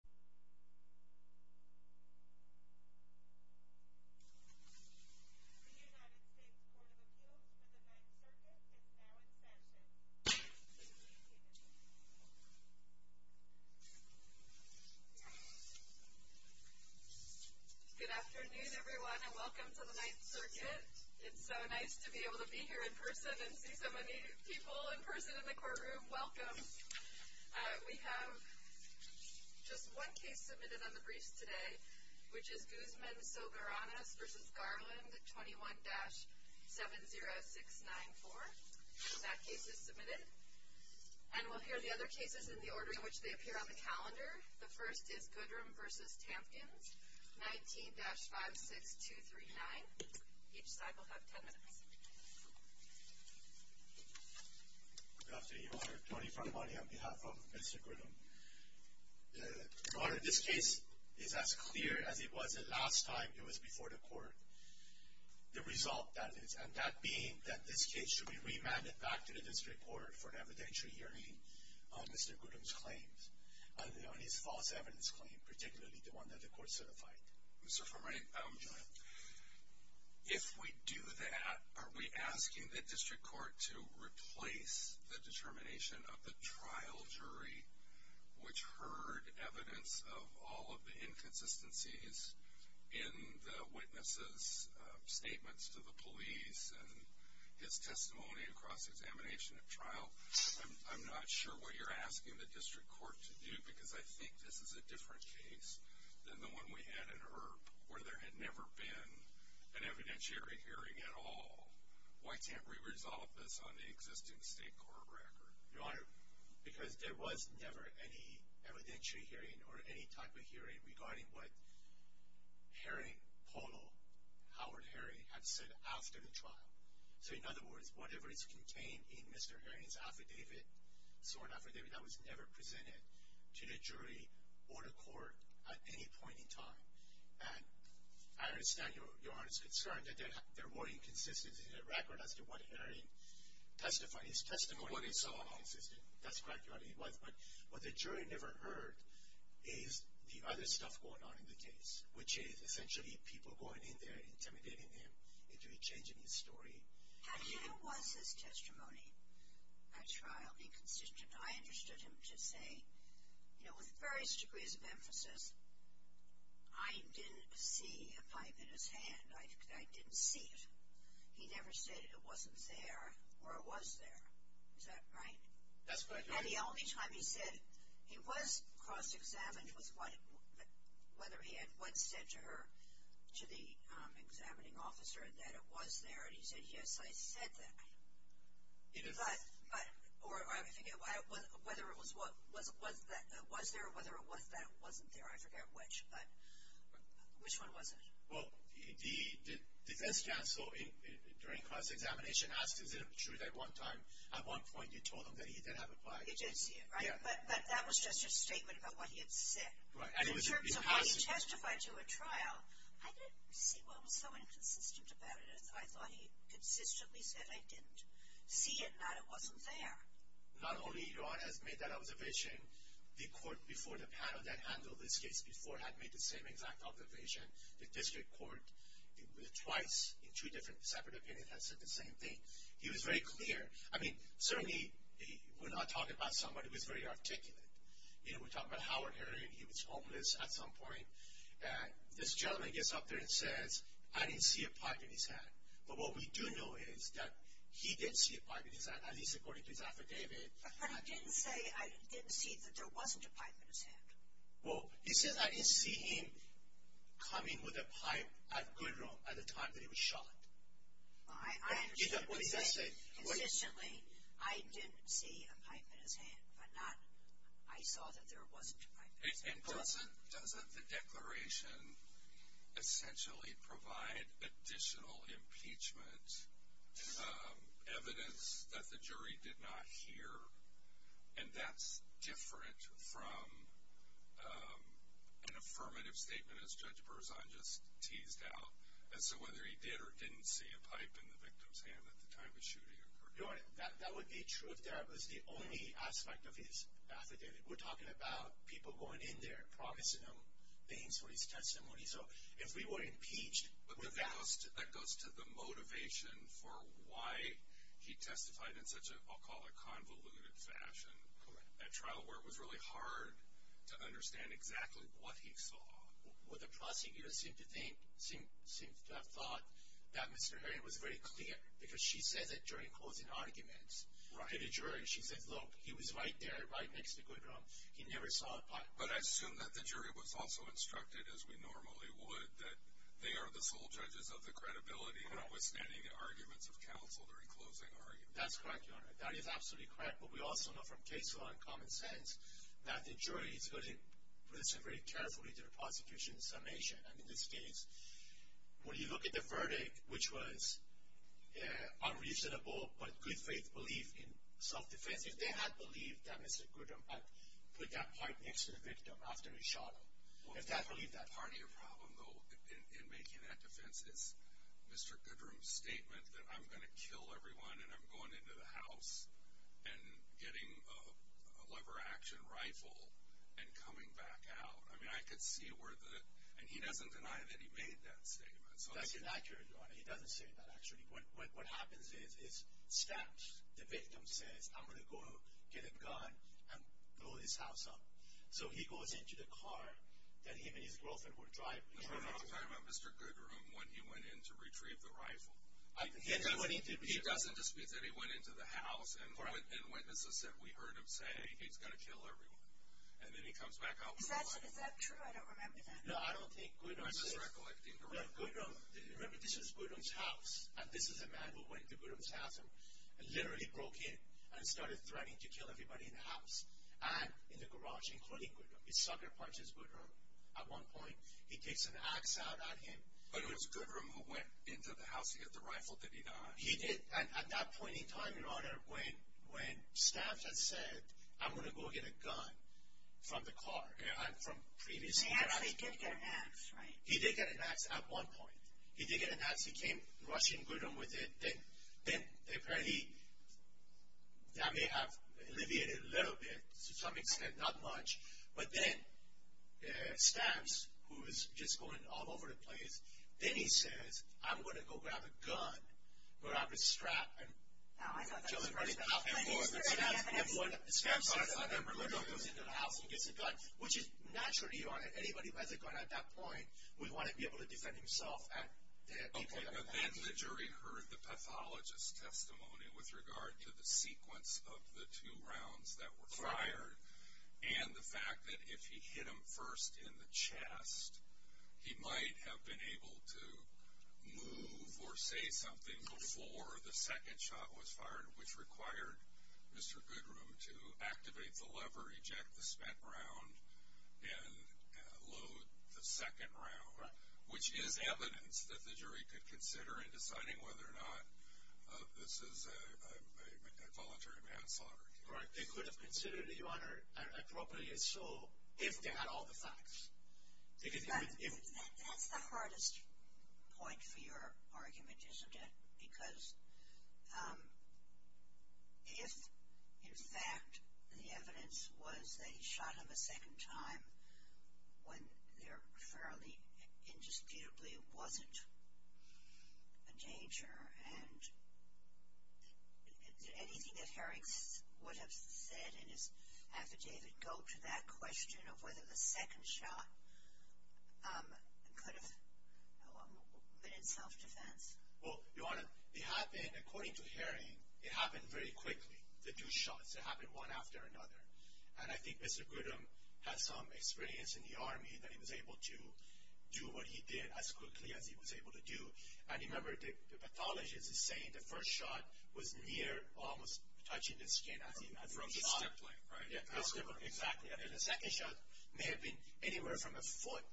The United States Court of Appeals for the Ninth Circuit is now in session. Good afternoon, everyone, and welcome to the Ninth Circuit. It's so nice to be able to be here in person and see so many people in person in the courtroom. Welcome. We have just one case submitted on the briefs today, which is Guzman-Sogaranis v. Garland, 21-70694. That case is submitted. And we'll hear the other cases in the order in which they appear on the calendar. The first is Goodrum v. Tampkins, 19-56239. Each side will have ten minutes. Good afternoon, Your Honor. Tony Frombardi on behalf of Mr. Goodrum. Your Honor, this case is as clear as it was the last time it was before the court. The result, that is. And that being that this case should be remanded back to the district court for an evidentiary hearing on Mr. Goodrum's claims, on his false evidence claim, particularly the one that the court certified. Mr. Frombardi, if we do that, are we asking the district court to replace the determination of the trial jury, which heard evidence of all of the inconsistencies in the witnesses' statements to the police and his testimony across examination at trial? I'm not sure what you're asking the district court to do, because I think this is a different case than the one we had in Earp, where there had never been an evidentiary hearing at all. Why can't we resolve this on the existing state court record? Your Honor, because there was never any evidentiary hearing or any type of hearing regarding what Harry Polo, Howard Harry, had said after the trial. So, in other words, whatever is contained in Mr. Herring's affidavit, so an affidavit that was never presented to the jury or the court at any point in time. And I understand Your Honor's concern that there were inconsistencies in the record as to what Harry testified. His testimony was so inconsistent. That's correct, Your Honor. But what the jury never heard is the other stuff going on in the case, which is essentially people going in there intimidating him into changing his story. However, was his testimony at trial inconsistent? I understood him to say, you know, with various degrees of emphasis, I didn't see a pipe in his hand. I didn't see it. He never stated it wasn't there or it was there. Is that right? That's correct, Your Honor. And the only time he said it, he was cross-examined with whether he had once said to her, to the examining officer, that it was there. And he said, yes, I said that. Or I forget whether it was there or whether it wasn't there. I forget which. But which one was it? Well, the defense counsel during cross-examination asked, is it true that one time, at one point, you told him that he did have a pipe? He did say it, right? But that was just his statement about what he had said. In terms of when he testified to a trial, I didn't see what was so inconsistent about it. I thought he consistently said, I didn't see it, that it wasn't there. Not only, Your Honor, has made that observation, the court before the panel that handled this case before had made the same exact observation. The district court, twice, in two different separate opinions, had said the same thing. He was very clear. I mean, certainly we're not talking about somebody who is very articulate. You know, we're talking about Howard Herring. He was homeless at some point. This gentleman gets up there and says, I didn't see a pipe in his hand. But what we do know is that he did see a pipe in his hand, at least according to his affidavit. But he didn't say, I didn't see that there wasn't a pipe in his hand. Well, he says, I didn't see him coming with a pipe at Goodron at the time that he was shot. I understand. What does that say? Consistently, I didn't see a pipe in his hand, but not, I saw that there wasn't a pipe in his hand. And doesn't the declaration essentially provide additional impeachment evidence that the jury did not hear? And that's different from an affirmative statement, as Judge Berzon just teased out. And so whether he did or didn't see a pipe in the victim's hand at the time the shooting occurred. That would be true if that was the only aspect of his affidavit. We're talking about people going in there promising him things for his testimony. So if we were impeached without. But that goes to the motivation for why he testified in such a, I'll call it convoluted fashion. Correct. At trial where it was really hard to understand exactly what he saw. Well, the prosecutor seemed to think, seemed to have thought that Mr. Heron was very clear. Because she says it during closing arguments. Right. She said, look, he was right there, right next to Goodrum. He never saw a pipe. But I assume that the jury was also instructed, as we normally would, that they are the sole judges of the credibility. Correct. Notwithstanding the arguments of counsel during closing arguments. That's correct, Your Honor. That is absolutely correct. But we also know from case law and common sense that the jury is going to listen very carefully to the prosecution's summation. And in this case, when you look at the verdict, which was unreasonable, but good faith belief in self-defense. If they had believed that Mr. Goodrum had put that pipe next to the victim after he shot him. If they had believed that. Part of your problem, though, in making that defense is Mr. Goodrum's statement that I'm going to kill everyone. And I'm going into the house and getting a lever action rifle and coming back out. I mean, I could see where the – and he doesn't deny that he made that statement. That's inaccurate, Your Honor. He doesn't say that, actually. What happens is, it's stamped. The victim says, I'm going to go get a gun and blow this house up. So he goes into the car that him and his girlfriend were driving. No, no, no. I'm talking about Mr. Goodrum when he went in to retrieve the rifle. He doesn't dispute that he went into the house and witnesses said we heard him say he's going to kill everyone. And then he comes back out with a gun. Is that true? I don't remember that. No, I don't think Goodrum said that. I'm just recollecting. Remember, this was Goodrum's house. And this is a man who went to Goodrum's house and literally broke in and started threatening to kill everybody in the house and in the garage, including Goodrum. He sucker punched Goodrum at one point. He kicks an ax out at him. But it was Goodrum who went into the house to get the rifle that he got. He did at that point in time, Your Honor, when Stamps had said I'm going to go get a gun from the car and from previously. He actually did get an ax, right? He did get an ax at one point. He did get an ax. He came rushing Goodrum with it. Then apparently that may have alleviated a little bit to some extent, not much. But then Stamps, who was just going all over the place, then he says, I'm going to go grab a gun. Grab a strap and kill everybody in the house. And so Goodrum goes into the house and gets a gun, which is natural, Your Honor. Anybody who has a gun at that point would want to be able to defend himself at that point. But then the jury heard the pathologist's testimony with regard to the sequence of the two rounds that were fired and the fact that if he hit him first in the chest, he might have been able to move or say something before the second shot was fired, which required Mr. Goodrum to activate the lever, eject the spent round, and load the second round, which is evidence that the jury could consider in deciding whether or not this is a voluntary manslaughter. Right. They could have considered it, Your Honor, appropriately so if they had all the facts. That's the hardest point for your argument, isn't it? Because if, in fact, the evidence was that he shot him a second time when there fairly indisputably wasn't a danger and anything that Herring would have said in his affidavit go to that question of whether the second shot could have been in self-defense. Well, Your Honor, it happened, according to Herring, it happened very quickly, the two shots. It happened one after another. And I think Mr. Goodrum has some experience in the Army that he was able to do what he did as quickly as he was able to do. And remember, the pathologist is saying the first shot was near, almost touching the skin as he shot him. From the stippling, right? Yeah, from the stippling, exactly. And then the second shot may have been anywhere from a foot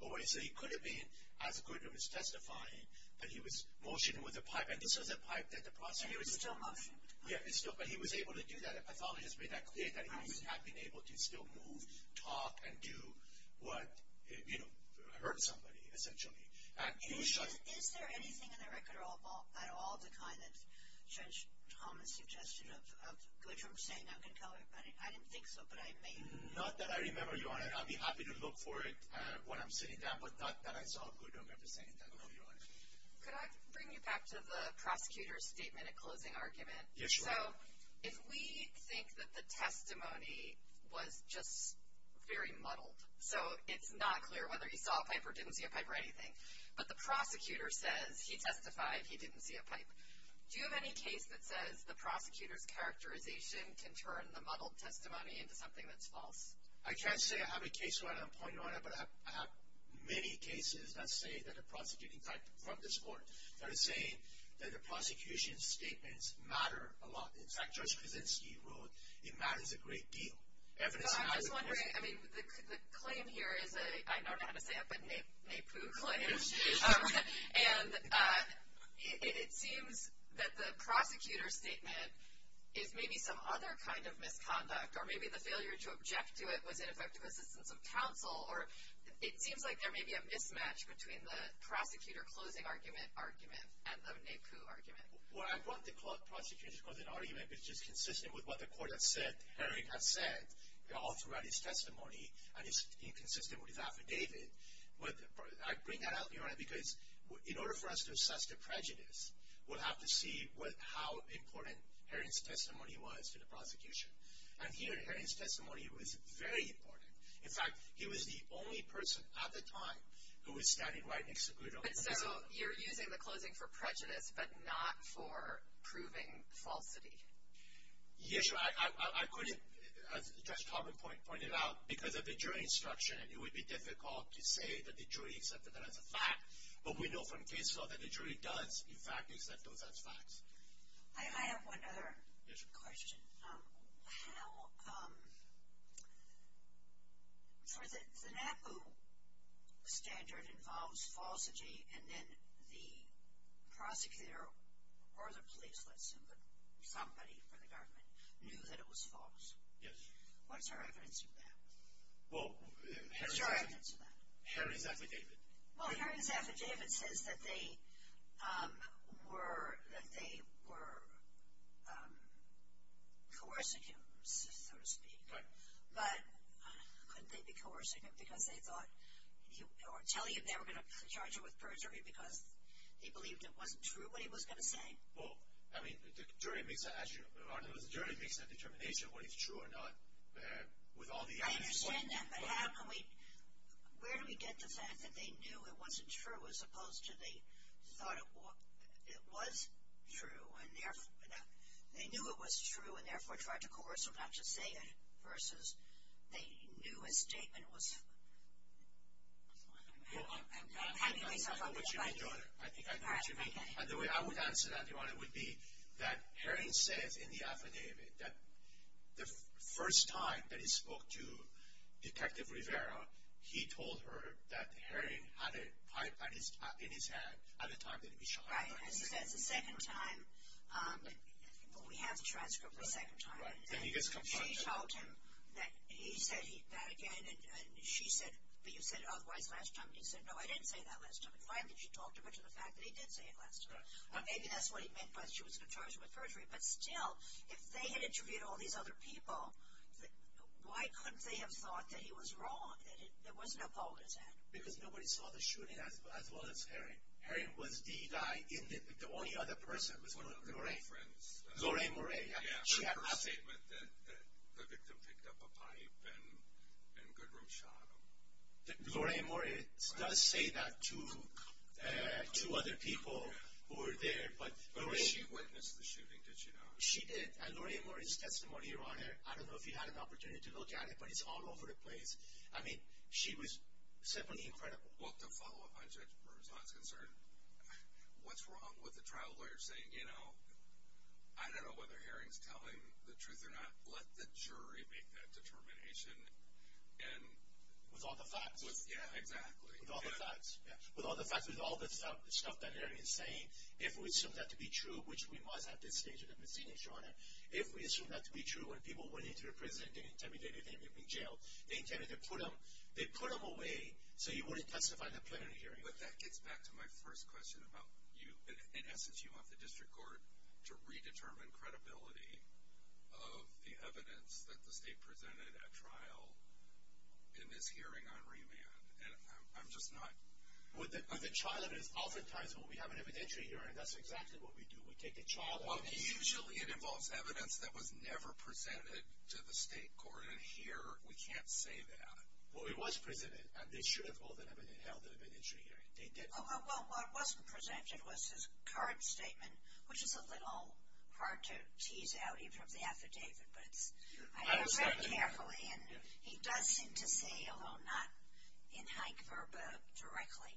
away. So he could have been, as Goodrum is testifying, that he was motioning with a pipe. And this was a pipe that the prosecutor was using. And he was still motioning. Yeah, but he was able to do that. The pathologist made that clear that he would have been able to still move, talk, and do what, you know, hurt somebody, essentially. And he shot him. Is there anything in the record at all the kind that Judge Thomas suggested of Goodrum saying that could kill her? I didn't think so, but I may. Not that I remember, Your Honor. I'll be happy to look for it when I'm sitting down, but not that I saw Goodrum ever saying that, Your Honor. Could I bring you back to the prosecutor's statement at closing argument? Yes, Your Honor. So if we think that the testimony was just very muddled, so it's not clear whether he saw a pipe or didn't see a pipe or anything, but the prosecutor says he testified he didn't see a pipe, do you have any case that says the prosecutor's characterization can turn the muddled testimony into something that's false? I can't say I have a case where I'm pointing on it, but I have many cases that say that a prosecuting type from this court that is saying that the prosecution's statements matter a lot. In fact, Judge Kuczynski wrote it matters a great deal. I'm just wondering, I mean, the claim here is a, I don't know how to say it, but a Naipoo claim, and it seems that the prosecutor's statement is maybe some other kind of misconduct, or maybe the failure to object to it was ineffective assistance of counsel, or it seems like there may be a mismatch between the prosecutor closing argument argument and the Naipoo argument. Well, I brought the prosecution's closing argument because it's consistent with what the court has said, Herring has said, all throughout his testimony, and it's inconsistent with his affidavit. But I bring that up, Your Honor, because in order for us to assess the prejudice, we'll have to see how important Herring's testimony was to the prosecution. And here Herring's testimony was very important. In fact, he was the only person at the time who was standing right next to a good old Naipoo. So you're using the closing for prejudice, but not for proving falsity. Yes, Your Honor. I couldn't, as Judge Tomlin pointed out, because of the jury instruction, it would be difficult to say that the jury accepted that as a fact, but we know from case law that the jury does, in fact, accept those as facts. I have one other question. How, um, so the Naipoo standard involves falsity, and then the prosecutor or the police let somebody, somebody from the government, knew that it was false. Yes. What's your evidence of that? Well, Herring's affidavit. Well, Herring's affidavit says that they were, that they were coercing him, so to speak. Right. But couldn't they be coercing him because they thought, or telling him they were going to charge him with perjury because he believed it wasn't true what he was going to say? Well, I mean, the jury makes a determination of what is true or not with all the evidence. I understand that. But how can we, where do we get the fact that they knew it wasn't true as opposed to they thought it was true and therefore, they knew it was true and therefore tried to coerce him not to say it versus they knew his statement was... I'm having myself a little bit... And the way I would answer that, Your Honor, would be that Herring says in the affidavit that the first time that he spoke to Detective Rivera, he told her that Herring had a pipe in his hand at the time that he was shot. Right. That's the second time. We have the transcript of the second time. Right. And he gets confronted. She shouted that he said that again. And she said, but you said otherwise last time. And he said, no, I didn't say that last time. And finally, she talked him into the fact that he did say it last time. Maybe that's what he meant by she was going to charge him with perjury. But still, if they had interviewed all these other people, why couldn't they have thought that he was wrong, that it wasn't a bogus act? Because nobody saw the shooting as well as Herring. Herring was the guy, the only other person. One of the girlfriends. Lorraine Moray. Yeah, her statement that the victim picked up a pipe and Goodroom shot him. Lorraine Moray does say that to other people who were there. But she witnessed the shooting, did she not? She did. And Lorraine Moray's testimony, Your Honor, I don't know if you had an opportunity to look at it, but it's all over the place. I mean, she was simply incredible. Well, to follow up on Judge Burr's last concern, what's wrong with the trial lawyer saying, you know, I don't know whether Herring's telling the truth or not. Let the jury make that determination. With all the facts. Yeah, exactly. With all the facts. With all the stuff that Herring is saying, if we assume that to be true, which we must at this stage of the proceeding, Your Honor, if we assume that to be true, when people went into the prison, they intimidated them, they put them away so you wouldn't testify in a plenary hearing. But that gets back to my first question about you. In essence, you want the district court to redetermine credibility of the evidence that the state presented at trial in this hearing on remand. I'm just not. The trial evidence oftentimes, when we have an evidentiary hearing, that's exactly what we do. We take the trial evidence. Well, usually it involves evidence that was never presented to the state court, and here we can't say that. Well, it was presented, and they should have held an evidentiary hearing. They didn't. Well, what wasn't presented was his current statement, which is a little hard to tease out even from the affidavit. I read it carefully, and he does seem to say, although not in hank verba directly,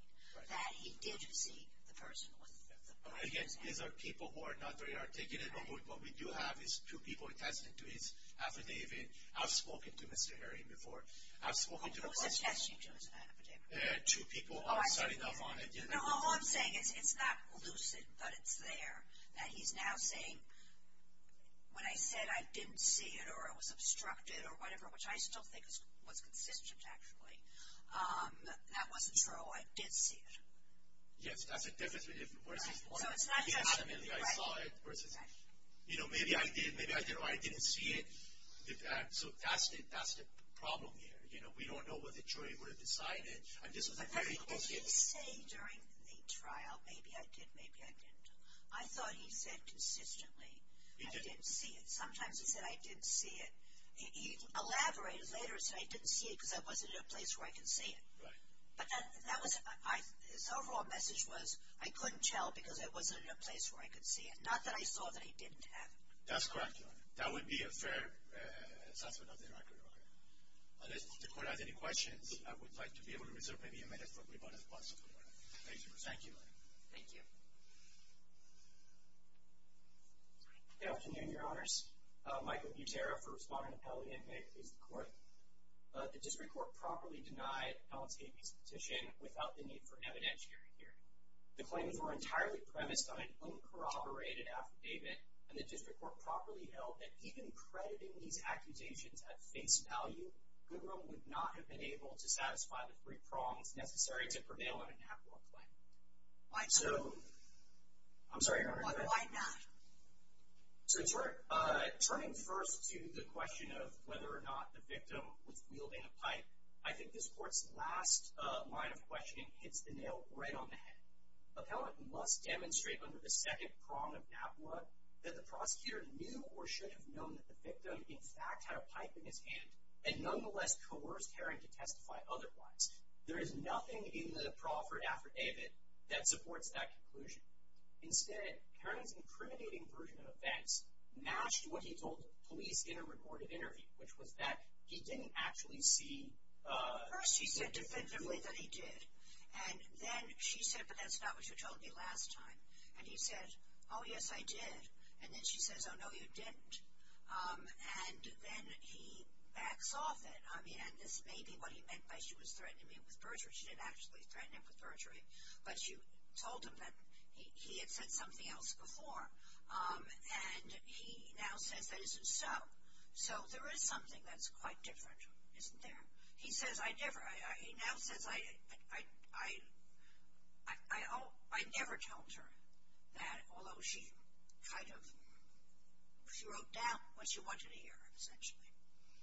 that he did see the person with the body in his hand. Again, these are people who are not very articulate. What we do have is two people attested to his affidavit. I've spoken to Mr. Herring before. Who was attesting to his affidavit? Two people. Oh, I see. No, all I'm saying is it's not lucid, but it's there. That he's now saying, when I said I didn't see it or it was obstructed or whatever, which I still think was consistent, actually, that wasn't true. I did see it. Yes, that's a different version. So it's not just, you know, maybe I did or I didn't see it. So that's the problem here. You know, we don't know what the jury would have decided. What did he say during the trial, maybe I did, maybe I didn't? I thought he said consistently I didn't see it. Sometimes he said I didn't see it. He elaborated later and said I didn't see it because I wasn't in a place where I could see it. But his overall message was I couldn't tell because I wasn't in a place where I could see it, not that I saw that I didn't have it. That's correct, Your Honor. That would be a fair assessment of the record, Your Honor. Unless the Court has any questions, I would like to be able to reserve maybe a minute for rebuttal, if possible. Thank you, Your Honor. Thank you. Good afternoon, Your Honors. Michael Butera for Respondent Appellee, and may it please the Court. The District Court properly denied Alex Gaby's petition without the need for an evidentiary hearing. The claims were entirely premised on an uncorroborated affidavit, and the District Court properly held that even crediting these accusations at face value, Goodron would not have been able to satisfy the three prongs necessary to prevail on a NAPWA claim. Why so? I'm sorry, Your Honor. Why not? Turning first to the question of whether or not the victim was wielding a pipe, I think this Court's last line of questioning hits the nail right on the head. Appellant must demonstrate under the second prong of NAPWA that the prosecutor knew or should have known that the victim in fact had a pipe in his hand, and nonetheless coerced Herring to testify otherwise. There is nothing in the proffered affidavit that supports that conclusion. Instead, Herring's incriminating version of events matched what he told police in a recorded interview, which was that he didn't actually see— And then she said, but that's not what you told me last time. And he said, oh, yes, I did. And then she says, oh, no, you didn't. And then he backs off it. I mean, and this may be what he meant by she was threatening him with perjury. She didn't actually threaten him with perjury, but you told him that he had said something else before. And he now says that isn't so. So there is something that's quite different, isn't there? He says, I never—he now says, I never told her that, although she kind of—she wrote down what she wanted to hear, essentially.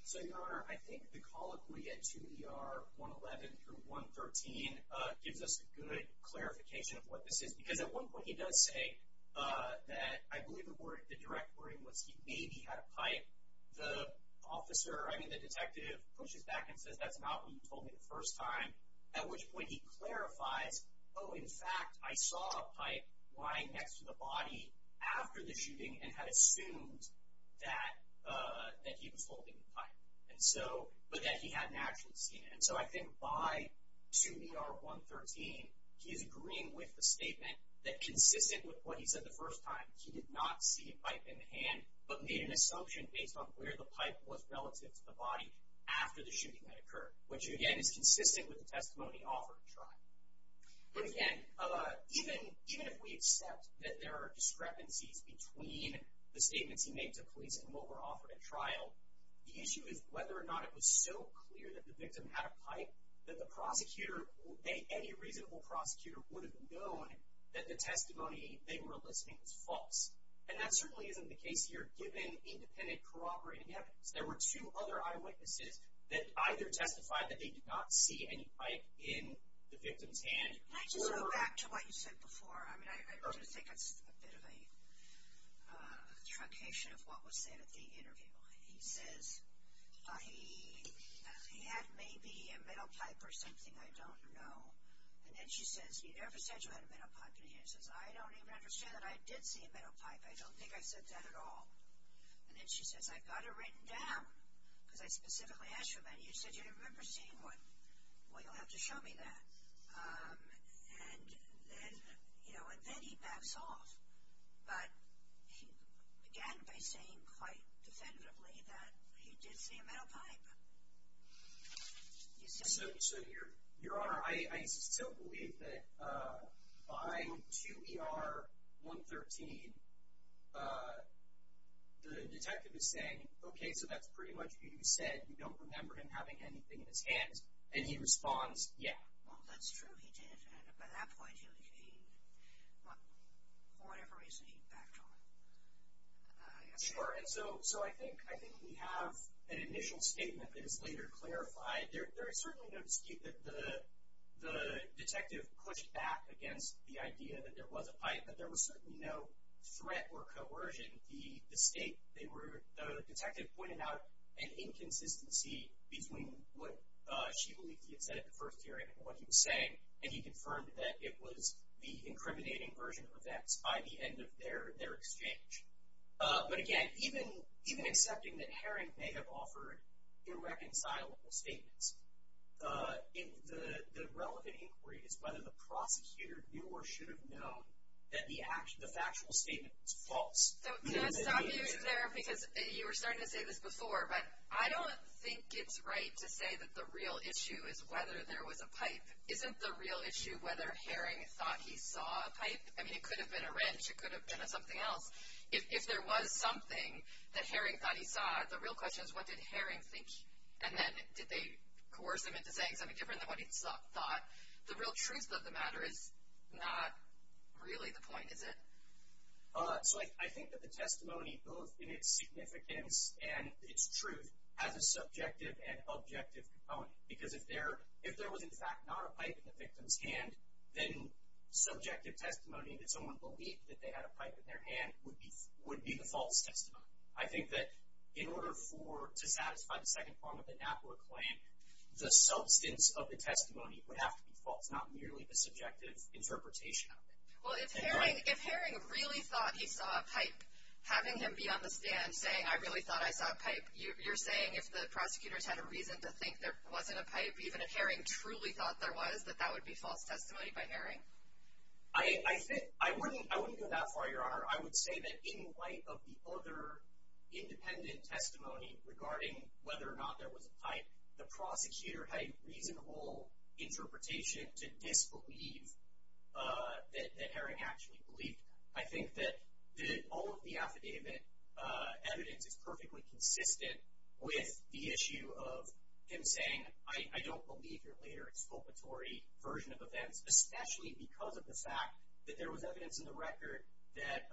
So, Your Honor, I think the colloquy at 2 ER 111 through 113 gives us a good clarification of what this is, because at one point he does say that I believe the direct wording was he maybe had a pipe. The officer—I mean, the detective pushes back and says that's not what you told me the first time, at which point he clarifies, oh, in fact, I saw a pipe lying next to the body after the shooting and had assumed that he was holding the pipe, but that he hadn't actually seen it. And so I think by 2 ER 113, he's agreeing with the statement that consistent with what he said the first time, he did not see a pipe in the hand, but made an assumption based on where the pipe was relative to the body after the shooting that occurred, which, again, is consistent with the testimony offered at trial. But again, even if we accept that there are discrepancies between the statements he made to police and what were offered at trial, the issue is whether or not it was so clear that the victim had a pipe that the prosecutor—any reasonable prosecutor would have known that the testimony they were listing was false. And that certainly isn't the case here, given independent, cooperating evidence. There were two other eyewitnesses that either testified that they did not see any pipe in the victim's hand. Can I just go back to what you said before? I mean, I do think it's a bit of a truncation of what was said at the interview. He says, he had maybe a metal pipe or something, I don't know. And then she says, you never said you had a metal pipe in your hand. He says, I don't even understand that I did see a metal pipe. I don't think I said that at all. And then she says, I've got it written down, because I specifically asked for that. And he said, you didn't remember seeing one. Well, you'll have to show me that. And then, you know, and then he backs off. But he began by saying quite definitively that he did see a metal pipe. So, Your Honor, I still believe that by 2 ER 113, the detective is saying, okay, so that's pretty much what you said, you don't remember him having anything in his hands. And he responds, yeah. Well, that's true, he did. And by that point, for whatever reason, he backed off. Sure. And so I think we have an initial statement that is later clarified. There is certainly no dispute that the detective pushed back against the idea that there was a pipe, but there was certainly no threat or coercion. The state, the detective pointed out an inconsistency between what she believed he had said at the first hearing and what he was saying, and he confirmed that it was the incriminating version of events by the end of their exchange. But, again, even accepting that Herring may have offered irreconcilable statements, the relevant inquiry is whether the prosecutor knew or should have known that the factual statement was false. Can I stop you there, because you were starting to say this before, but I don't think it's right to say that the real issue is whether there was a pipe. Isn't the real issue whether Herring thought he saw a pipe? I mean, it could have been a wrench, it could have been something else. If there was something that Herring thought he saw, the real question is what did Herring think? And then did they coerce him into saying something different than what he thought? The real truth of the matter is not really the point, is it? So I think that the testimony, both in its significance and its truth, has a subjective and objective component. Because if there was, in fact, not a pipe in the victim's hand, then subjective testimony that someone believed that they had a pipe in their hand would be the false testimony. I think that in order to satisfy the second part of the NAPLA claim, the substance of the testimony would have to be false, not merely the subjective interpretation of it. Well, if Herring really thought he saw a pipe, having him be on the stand saying, I really thought I saw a pipe, you're saying if the prosecutors had a reason to think there wasn't a pipe, even if Herring truly thought there was, that that would be false testimony by Herring? I wouldn't go that far, Your Honor. I would say that in light of the other independent testimony regarding whether or not there was a pipe, the prosecutor had a reasonable interpretation to disbelieve that Herring actually believed that. I think that all of the affidavit evidence is perfectly consistent with the issue of him saying, I don't believe your later exculpatory version of events, especially because of the fact that there was evidence in the record that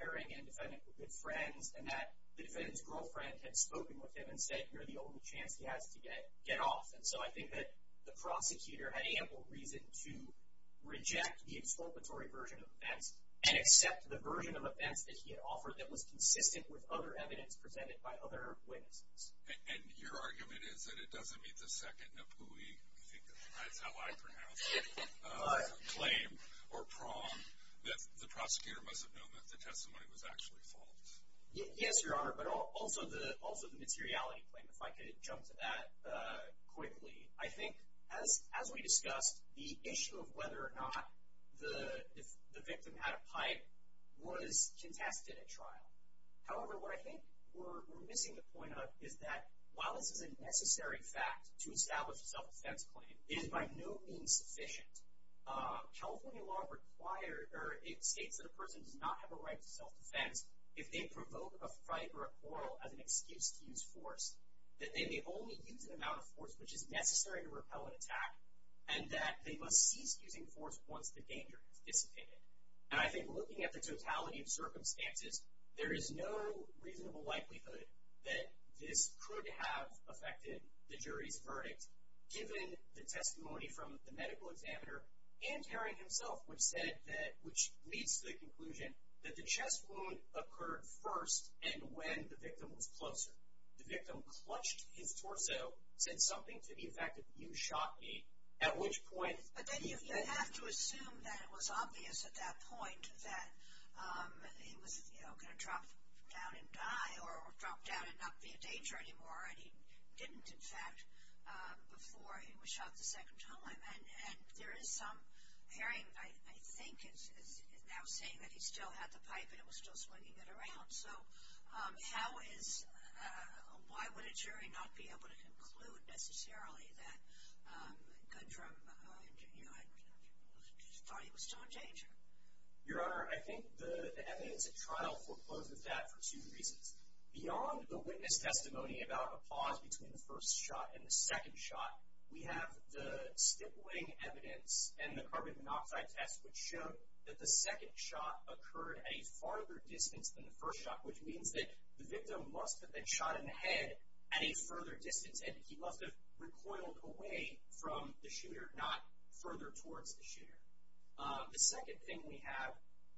Herring and the defendant were good friends and that the defendant's girlfriend had spoken with him and said you're the only chance he has to get off. And so I think that the prosecutor had ample reason to reject the exculpatory version of events and accept the version of events that he had offered that was consistent with other evidence presented by other witnesses. And your argument is that it doesn't meet the second NAPUI, I think that's how I pronounce it, claim or prong that the prosecutor must have known that the testimony was actually false. Yes, Your Honor, but also the materiality claim, if I could jump to that quickly. I think as we discussed, the issue of whether or not the victim had a pipe was contested at trial. However, what I think we're missing the point of is that while this is a necessary fact to establish a self-defense claim, it is by no means sufficient. California law states that a person does not have a right to self-defense if they provoke a fight or a quarrel as an excuse to use force, that they may only use an amount of force which is necessary to repel an attack, and that they must cease using force once the danger has dissipated. And I think looking at the totality of circumstances, there is no reasonable likelihood that this could have affected the jury's verdict, given the testimony from the medical examiner and Haring himself, which leads to the conclusion that the chest wound occurred first and when the victim was closer. The victim clutched his torso, said something to the effect of, you shot me, at which point... But then you have to assume that it was obvious at that point that he was, you know, going to drop down and die or drop down and not be a danger anymore, and he didn't, in fact, before he was shot the second time. And there is some Haring, I think, is now saying that he still had the pipe and was still swinging it around. So how is, why would a jury not be able to conclude necessarily that Gundram, you know, thought he was still in danger? Your Honor, I think the evidence at trial forecloses that for two reasons. Beyond the witness testimony about a pause between the first shot and the second shot, we have the stippling evidence and the carbon monoxide test, which showed that the second shot occurred at a farther distance than the first shot, which means that the victim must have been shot in the head at a further distance and he must have recoiled away from the shooter, not further towards the shooter. The second thing we have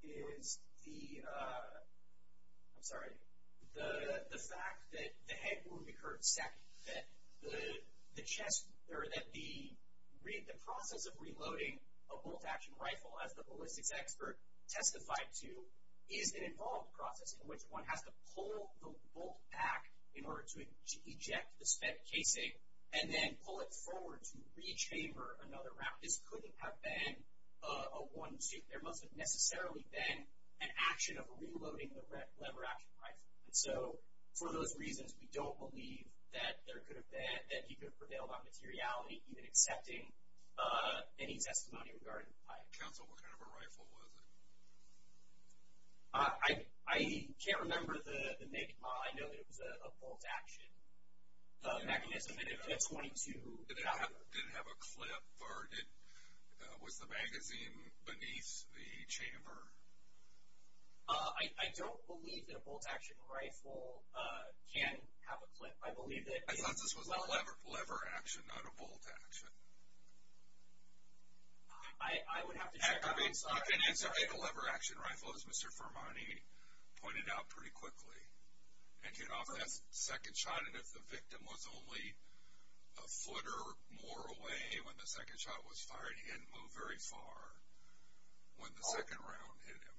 is the, I'm sorry, the fact that the head wound occurred second, that the process of reloading a bolt-action rifle, as the ballistics expert testified to, is an involved process in which one has to pull the bolt back in order to eject the spent casing and then pull it forward to re-chamber another round. This couldn't have been a one-two. There must have necessarily been an action of reloading the lever-action rifle. And so, for those reasons, we don't believe that there could have been, that he could have prevailed on materiality, even accepting any testimony regarding the pipe. Counsel, what kind of a rifle was it? I can't remember the name. I know that it was a bolt-action mechanism, a .22 caliber. Did it have a clip, or was the magazine beneath the chamber? I don't believe that a bolt-action rifle can have a clip. I believe that it is a lever. I thought this was a lever action, not a bolt action. I would have to check. I'm sorry. The lever-action rifle, as Mr. Fermani pointed out pretty quickly, it can offer that second shot, and if the victim was only a foot or more away when the second shot was fired, he didn't move very far when the second round hit him.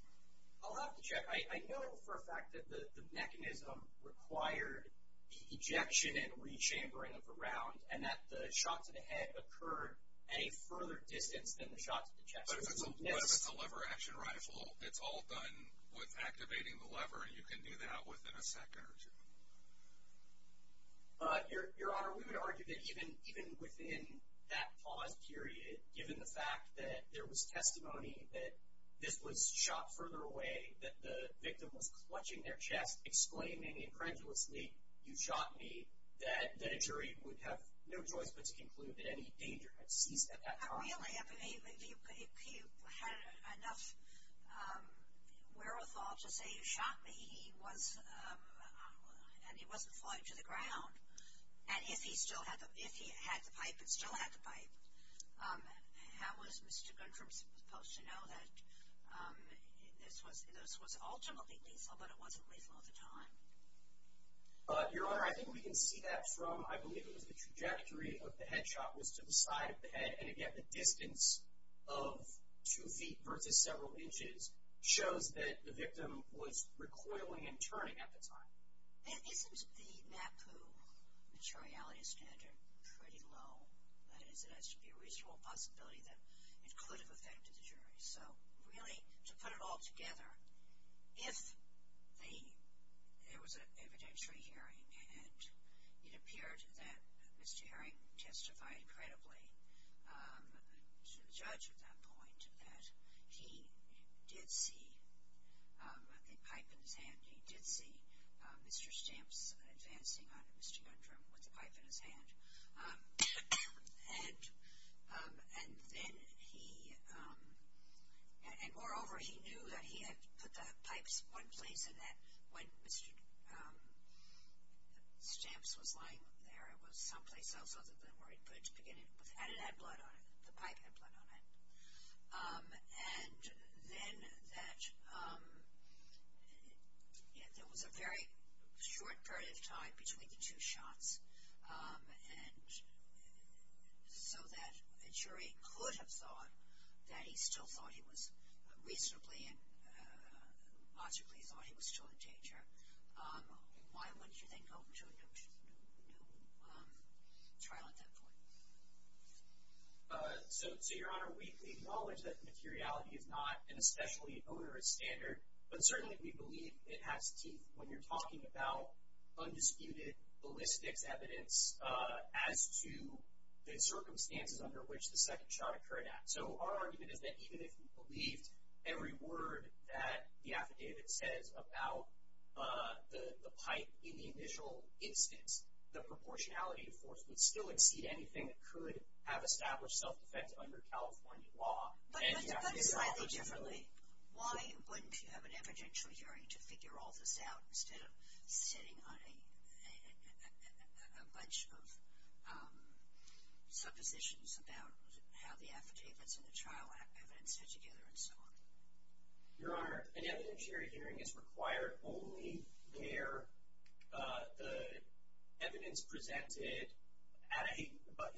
I'll have to check. I know for a fact that the mechanism required the ejection and re-chambering of the round, and that the shot to the head occurred at a further distance than the shot to the chest. But if it's a lever-action rifle, it's all done with activating the lever, and you can do that within a second or two. Your Honor, we would argue that even within that pause period, given the fact that there was testimony that this was shot further away, that the victim was clutching their chest, exclaiming incredulously, you shot me, that a jury would have no choice but to conclude that any danger had ceased at that time. Not really. If you had enough wherewithal to say you shot me, and he wasn't flying to the ground, and if he had the pipe and still had the pipe, how was Mr. Gundrum supposed to know that this was ultimately lethal, but it wasn't lethal at the time? Your Honor, I think we can see that from, I believe it was the trajectory of the head shot, was to the side of the head, and again, the distance of two feet versus several inches shows that the victim was recoiling and turning at the time. Isn't the NAPU materiality standard pretty low? That is, there has to be a reasonable possibility that it could have affected the jury. So really, to put it all together, if there was an evidentiary hearing, and it appeared that Mr. Herring testified credibly to the judge at that point, that he did see the pipe in his hand. He did see Mr. Stamps advancing onto Mr. Gundrum with the pipe in his hand. And then he, and moreover, he knew that he had put the pipes one place and that when Mr. Stamps was lying there, it was someplace else other than where he put it to begin with, and it had blood on it, the pipe had blood on it. And then that there was a very short period of time between the two shots, and so that a jury could have thought that he still thought he was reasonably and logically thought he was still in danger. Why wouldn't you then go to a new trial at that point? So, Your Honor, we acknowledge that materiality is not an especially onerous standard, but certainly we believe it has teeth when you're talking about undisputed, ballistics evidence as to the circumstances under which the second shot occurred at. So our argument is that even if we believed every word that the affidavit says about the pipe in the initial instance, the proportionality to force would still exceed anything that could have established self-defense under California law. But slightly differently, why wouldn't you have an evidentiary hearing to figure all this out instead of sitting on a bunch of suppositions about how the affidavits and the trial evidence fit together and so on? Your Honor, an evidentiary hearing is required only where the evidence presented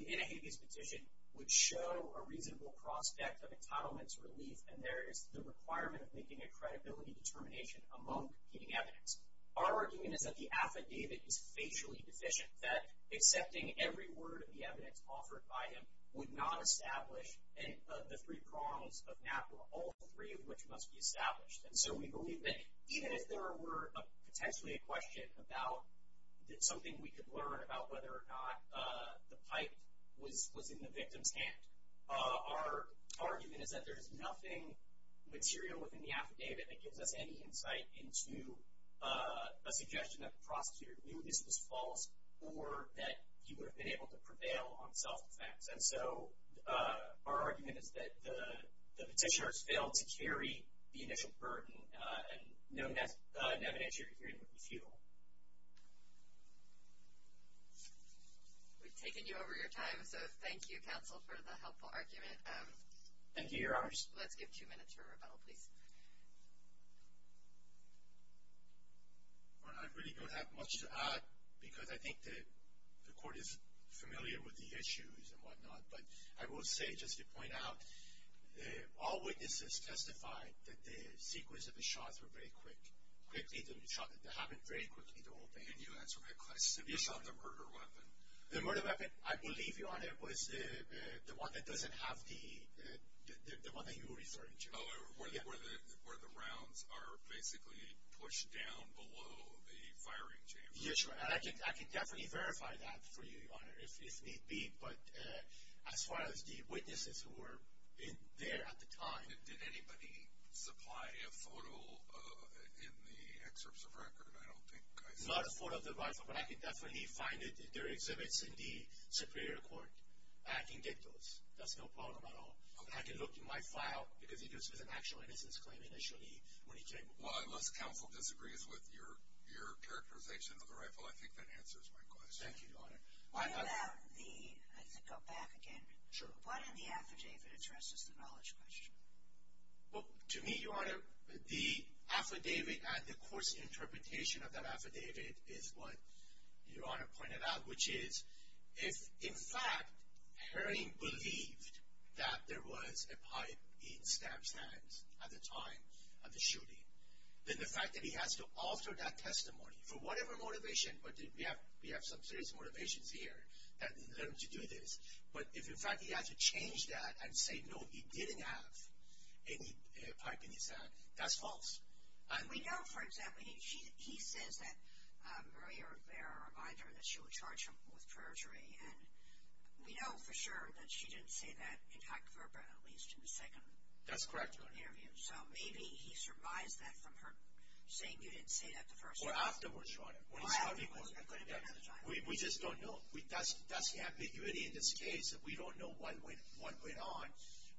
in a habeas petition would show a reasonable prospect of entitlement to relief, and there is the requirement of making a credibility determination among competing evidence. Our argument is that the affidavit is facially deficient, that accepting every word of the evidence offered by him would not establish the three prongs of NAPRA, all three of which must be established. And so we believe that even if there were potentially a question about something we could learn about whether or not the pipe was in the victim's hand, our argument is that there is nothing material within the affidavit that gives us any insight into a suggestion that the prosecutor knew this was false or that he would have been able to prevail on self-defense. And so our argument is that the petitioner has failed to carry the initial burden, and no NAPRA evidentiary hearing would be futile. We've taken you over your time, so thank you, counsel, for the helpful argument. Thank you, Your Honors. Well, I really don't have much to add because I think the court is familiar with the issues and whatnot, but I will say just to point out, all witnesses testified that the sequence of the shots were very quick, quickly to be shot, that they happened very quickly to open. And you answered my question. You shot the murder weapon. The murder weapon, I believe, Your Honor, was the one that doesn't have the one that you were referring to. Oh, where the rounds are basically pushed down below the firing chamber. Yes, Your Honor, and I can definitely verify that for you, Your Honor, if need be. But as far as the witnesses who were there at the time. Did anybody supply a photo in the excerpts of record? I don't think I saw. Not a photo of the rifle, but I can definitely find it. There are exhibits in the Superior Court. I can get those. That's no problem at all. I can look in my file because it was an actual innocence claim initially when he came. Well, unless counsel disagrees with your characterization of the rifle, I think that answers my question. Thank you, Your Honor. What about the, I have to go back again. Sure. What in the affidavit addresses the knowledge question? Well, to me, Your Honor, the affidavit and the court's interpretation of that affidavit is what Your Honor pointed out, which is if, in fact, Herring believed that there was a pipe in Stamps' hands at the time of the shooting, then the fact that he has to alter that testimony for whatever motivation, but we have some serious motivations here that led him to do this. But if, in fact, he has to change that and say, no, he didn't have any pipe in his hand, that's false. We know, for example, he says that earlier there a reminder that she would charge him with perjury, and we know for sure that she didn't say that in hypoverba, at least in the second interview. That's correct, Your Honor. So maybe he surmised that from her saying you didn't say that the first time. Or afterwards, Your Honor. Or afterwards. We just don't know. That's the ambiguity in this case that we don't know what went on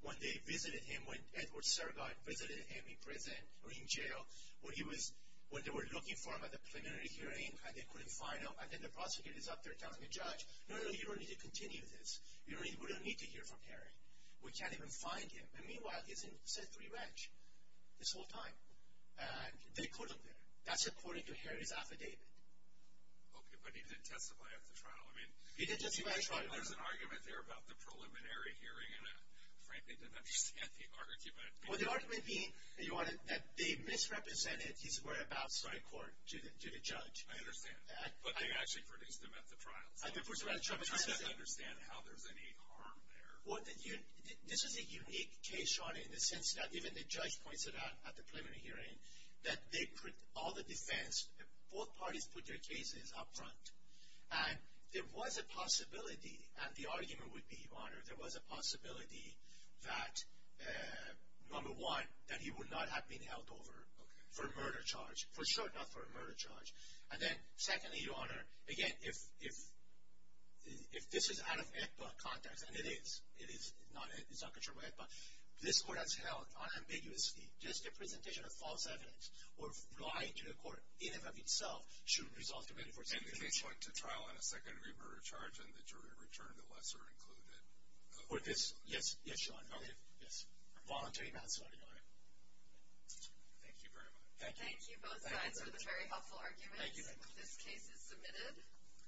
when they visited him, when Edward Sergott visited him in prison or in jail, when they were looking for him at the preliminary hearing and they couldn't find him, and then the prosecutor is up there telling the judge, no, no, you don't need to continue this. We don't need to hear from Herring. We can't even find him. And meanwhile, he's in Sethbury Ranch this whole time, and they put him there. That's according to Herring's affidavit. Okay, but he didn't testify at the trial. I mean, there's an argument there about the preliminary hearing, and, frankly, I don't understand the argument. Well, the argument being that they misrepresented his word about starting court to the judge. I understand. But they actually produced him at the trial. So I'm trying to understand how there's any harm there. Well, this is a unique case, Your Honor, in the sense that even the judge points it out at the preliminary hearing that they put all the defense, both parties put their cases up front. And there was a possibility, and the argument would be, Your Honor, there was a possibility that, number one, that he would not have been held over for a murder charge, for sure not for a murder charge. And then, secondly, Your Honor, again, if this is out of ECBA context, and it is, it is not controlled by ECBA, this court has held unambiguously just a presentation of false evidence or lying to the court in and of itself shouldn't result in a 24-7 conviction. And the case went to trial on a second-degree murder charge, and the jury returned the lesser included. Would this? Yes. Yes, Your Honor. Okay. Yes. I'm volunteering that, sir. All right. Thank you very much. Thank you. Thank you, both sides, for the very helpful arguments. Thank you. This case is submitted.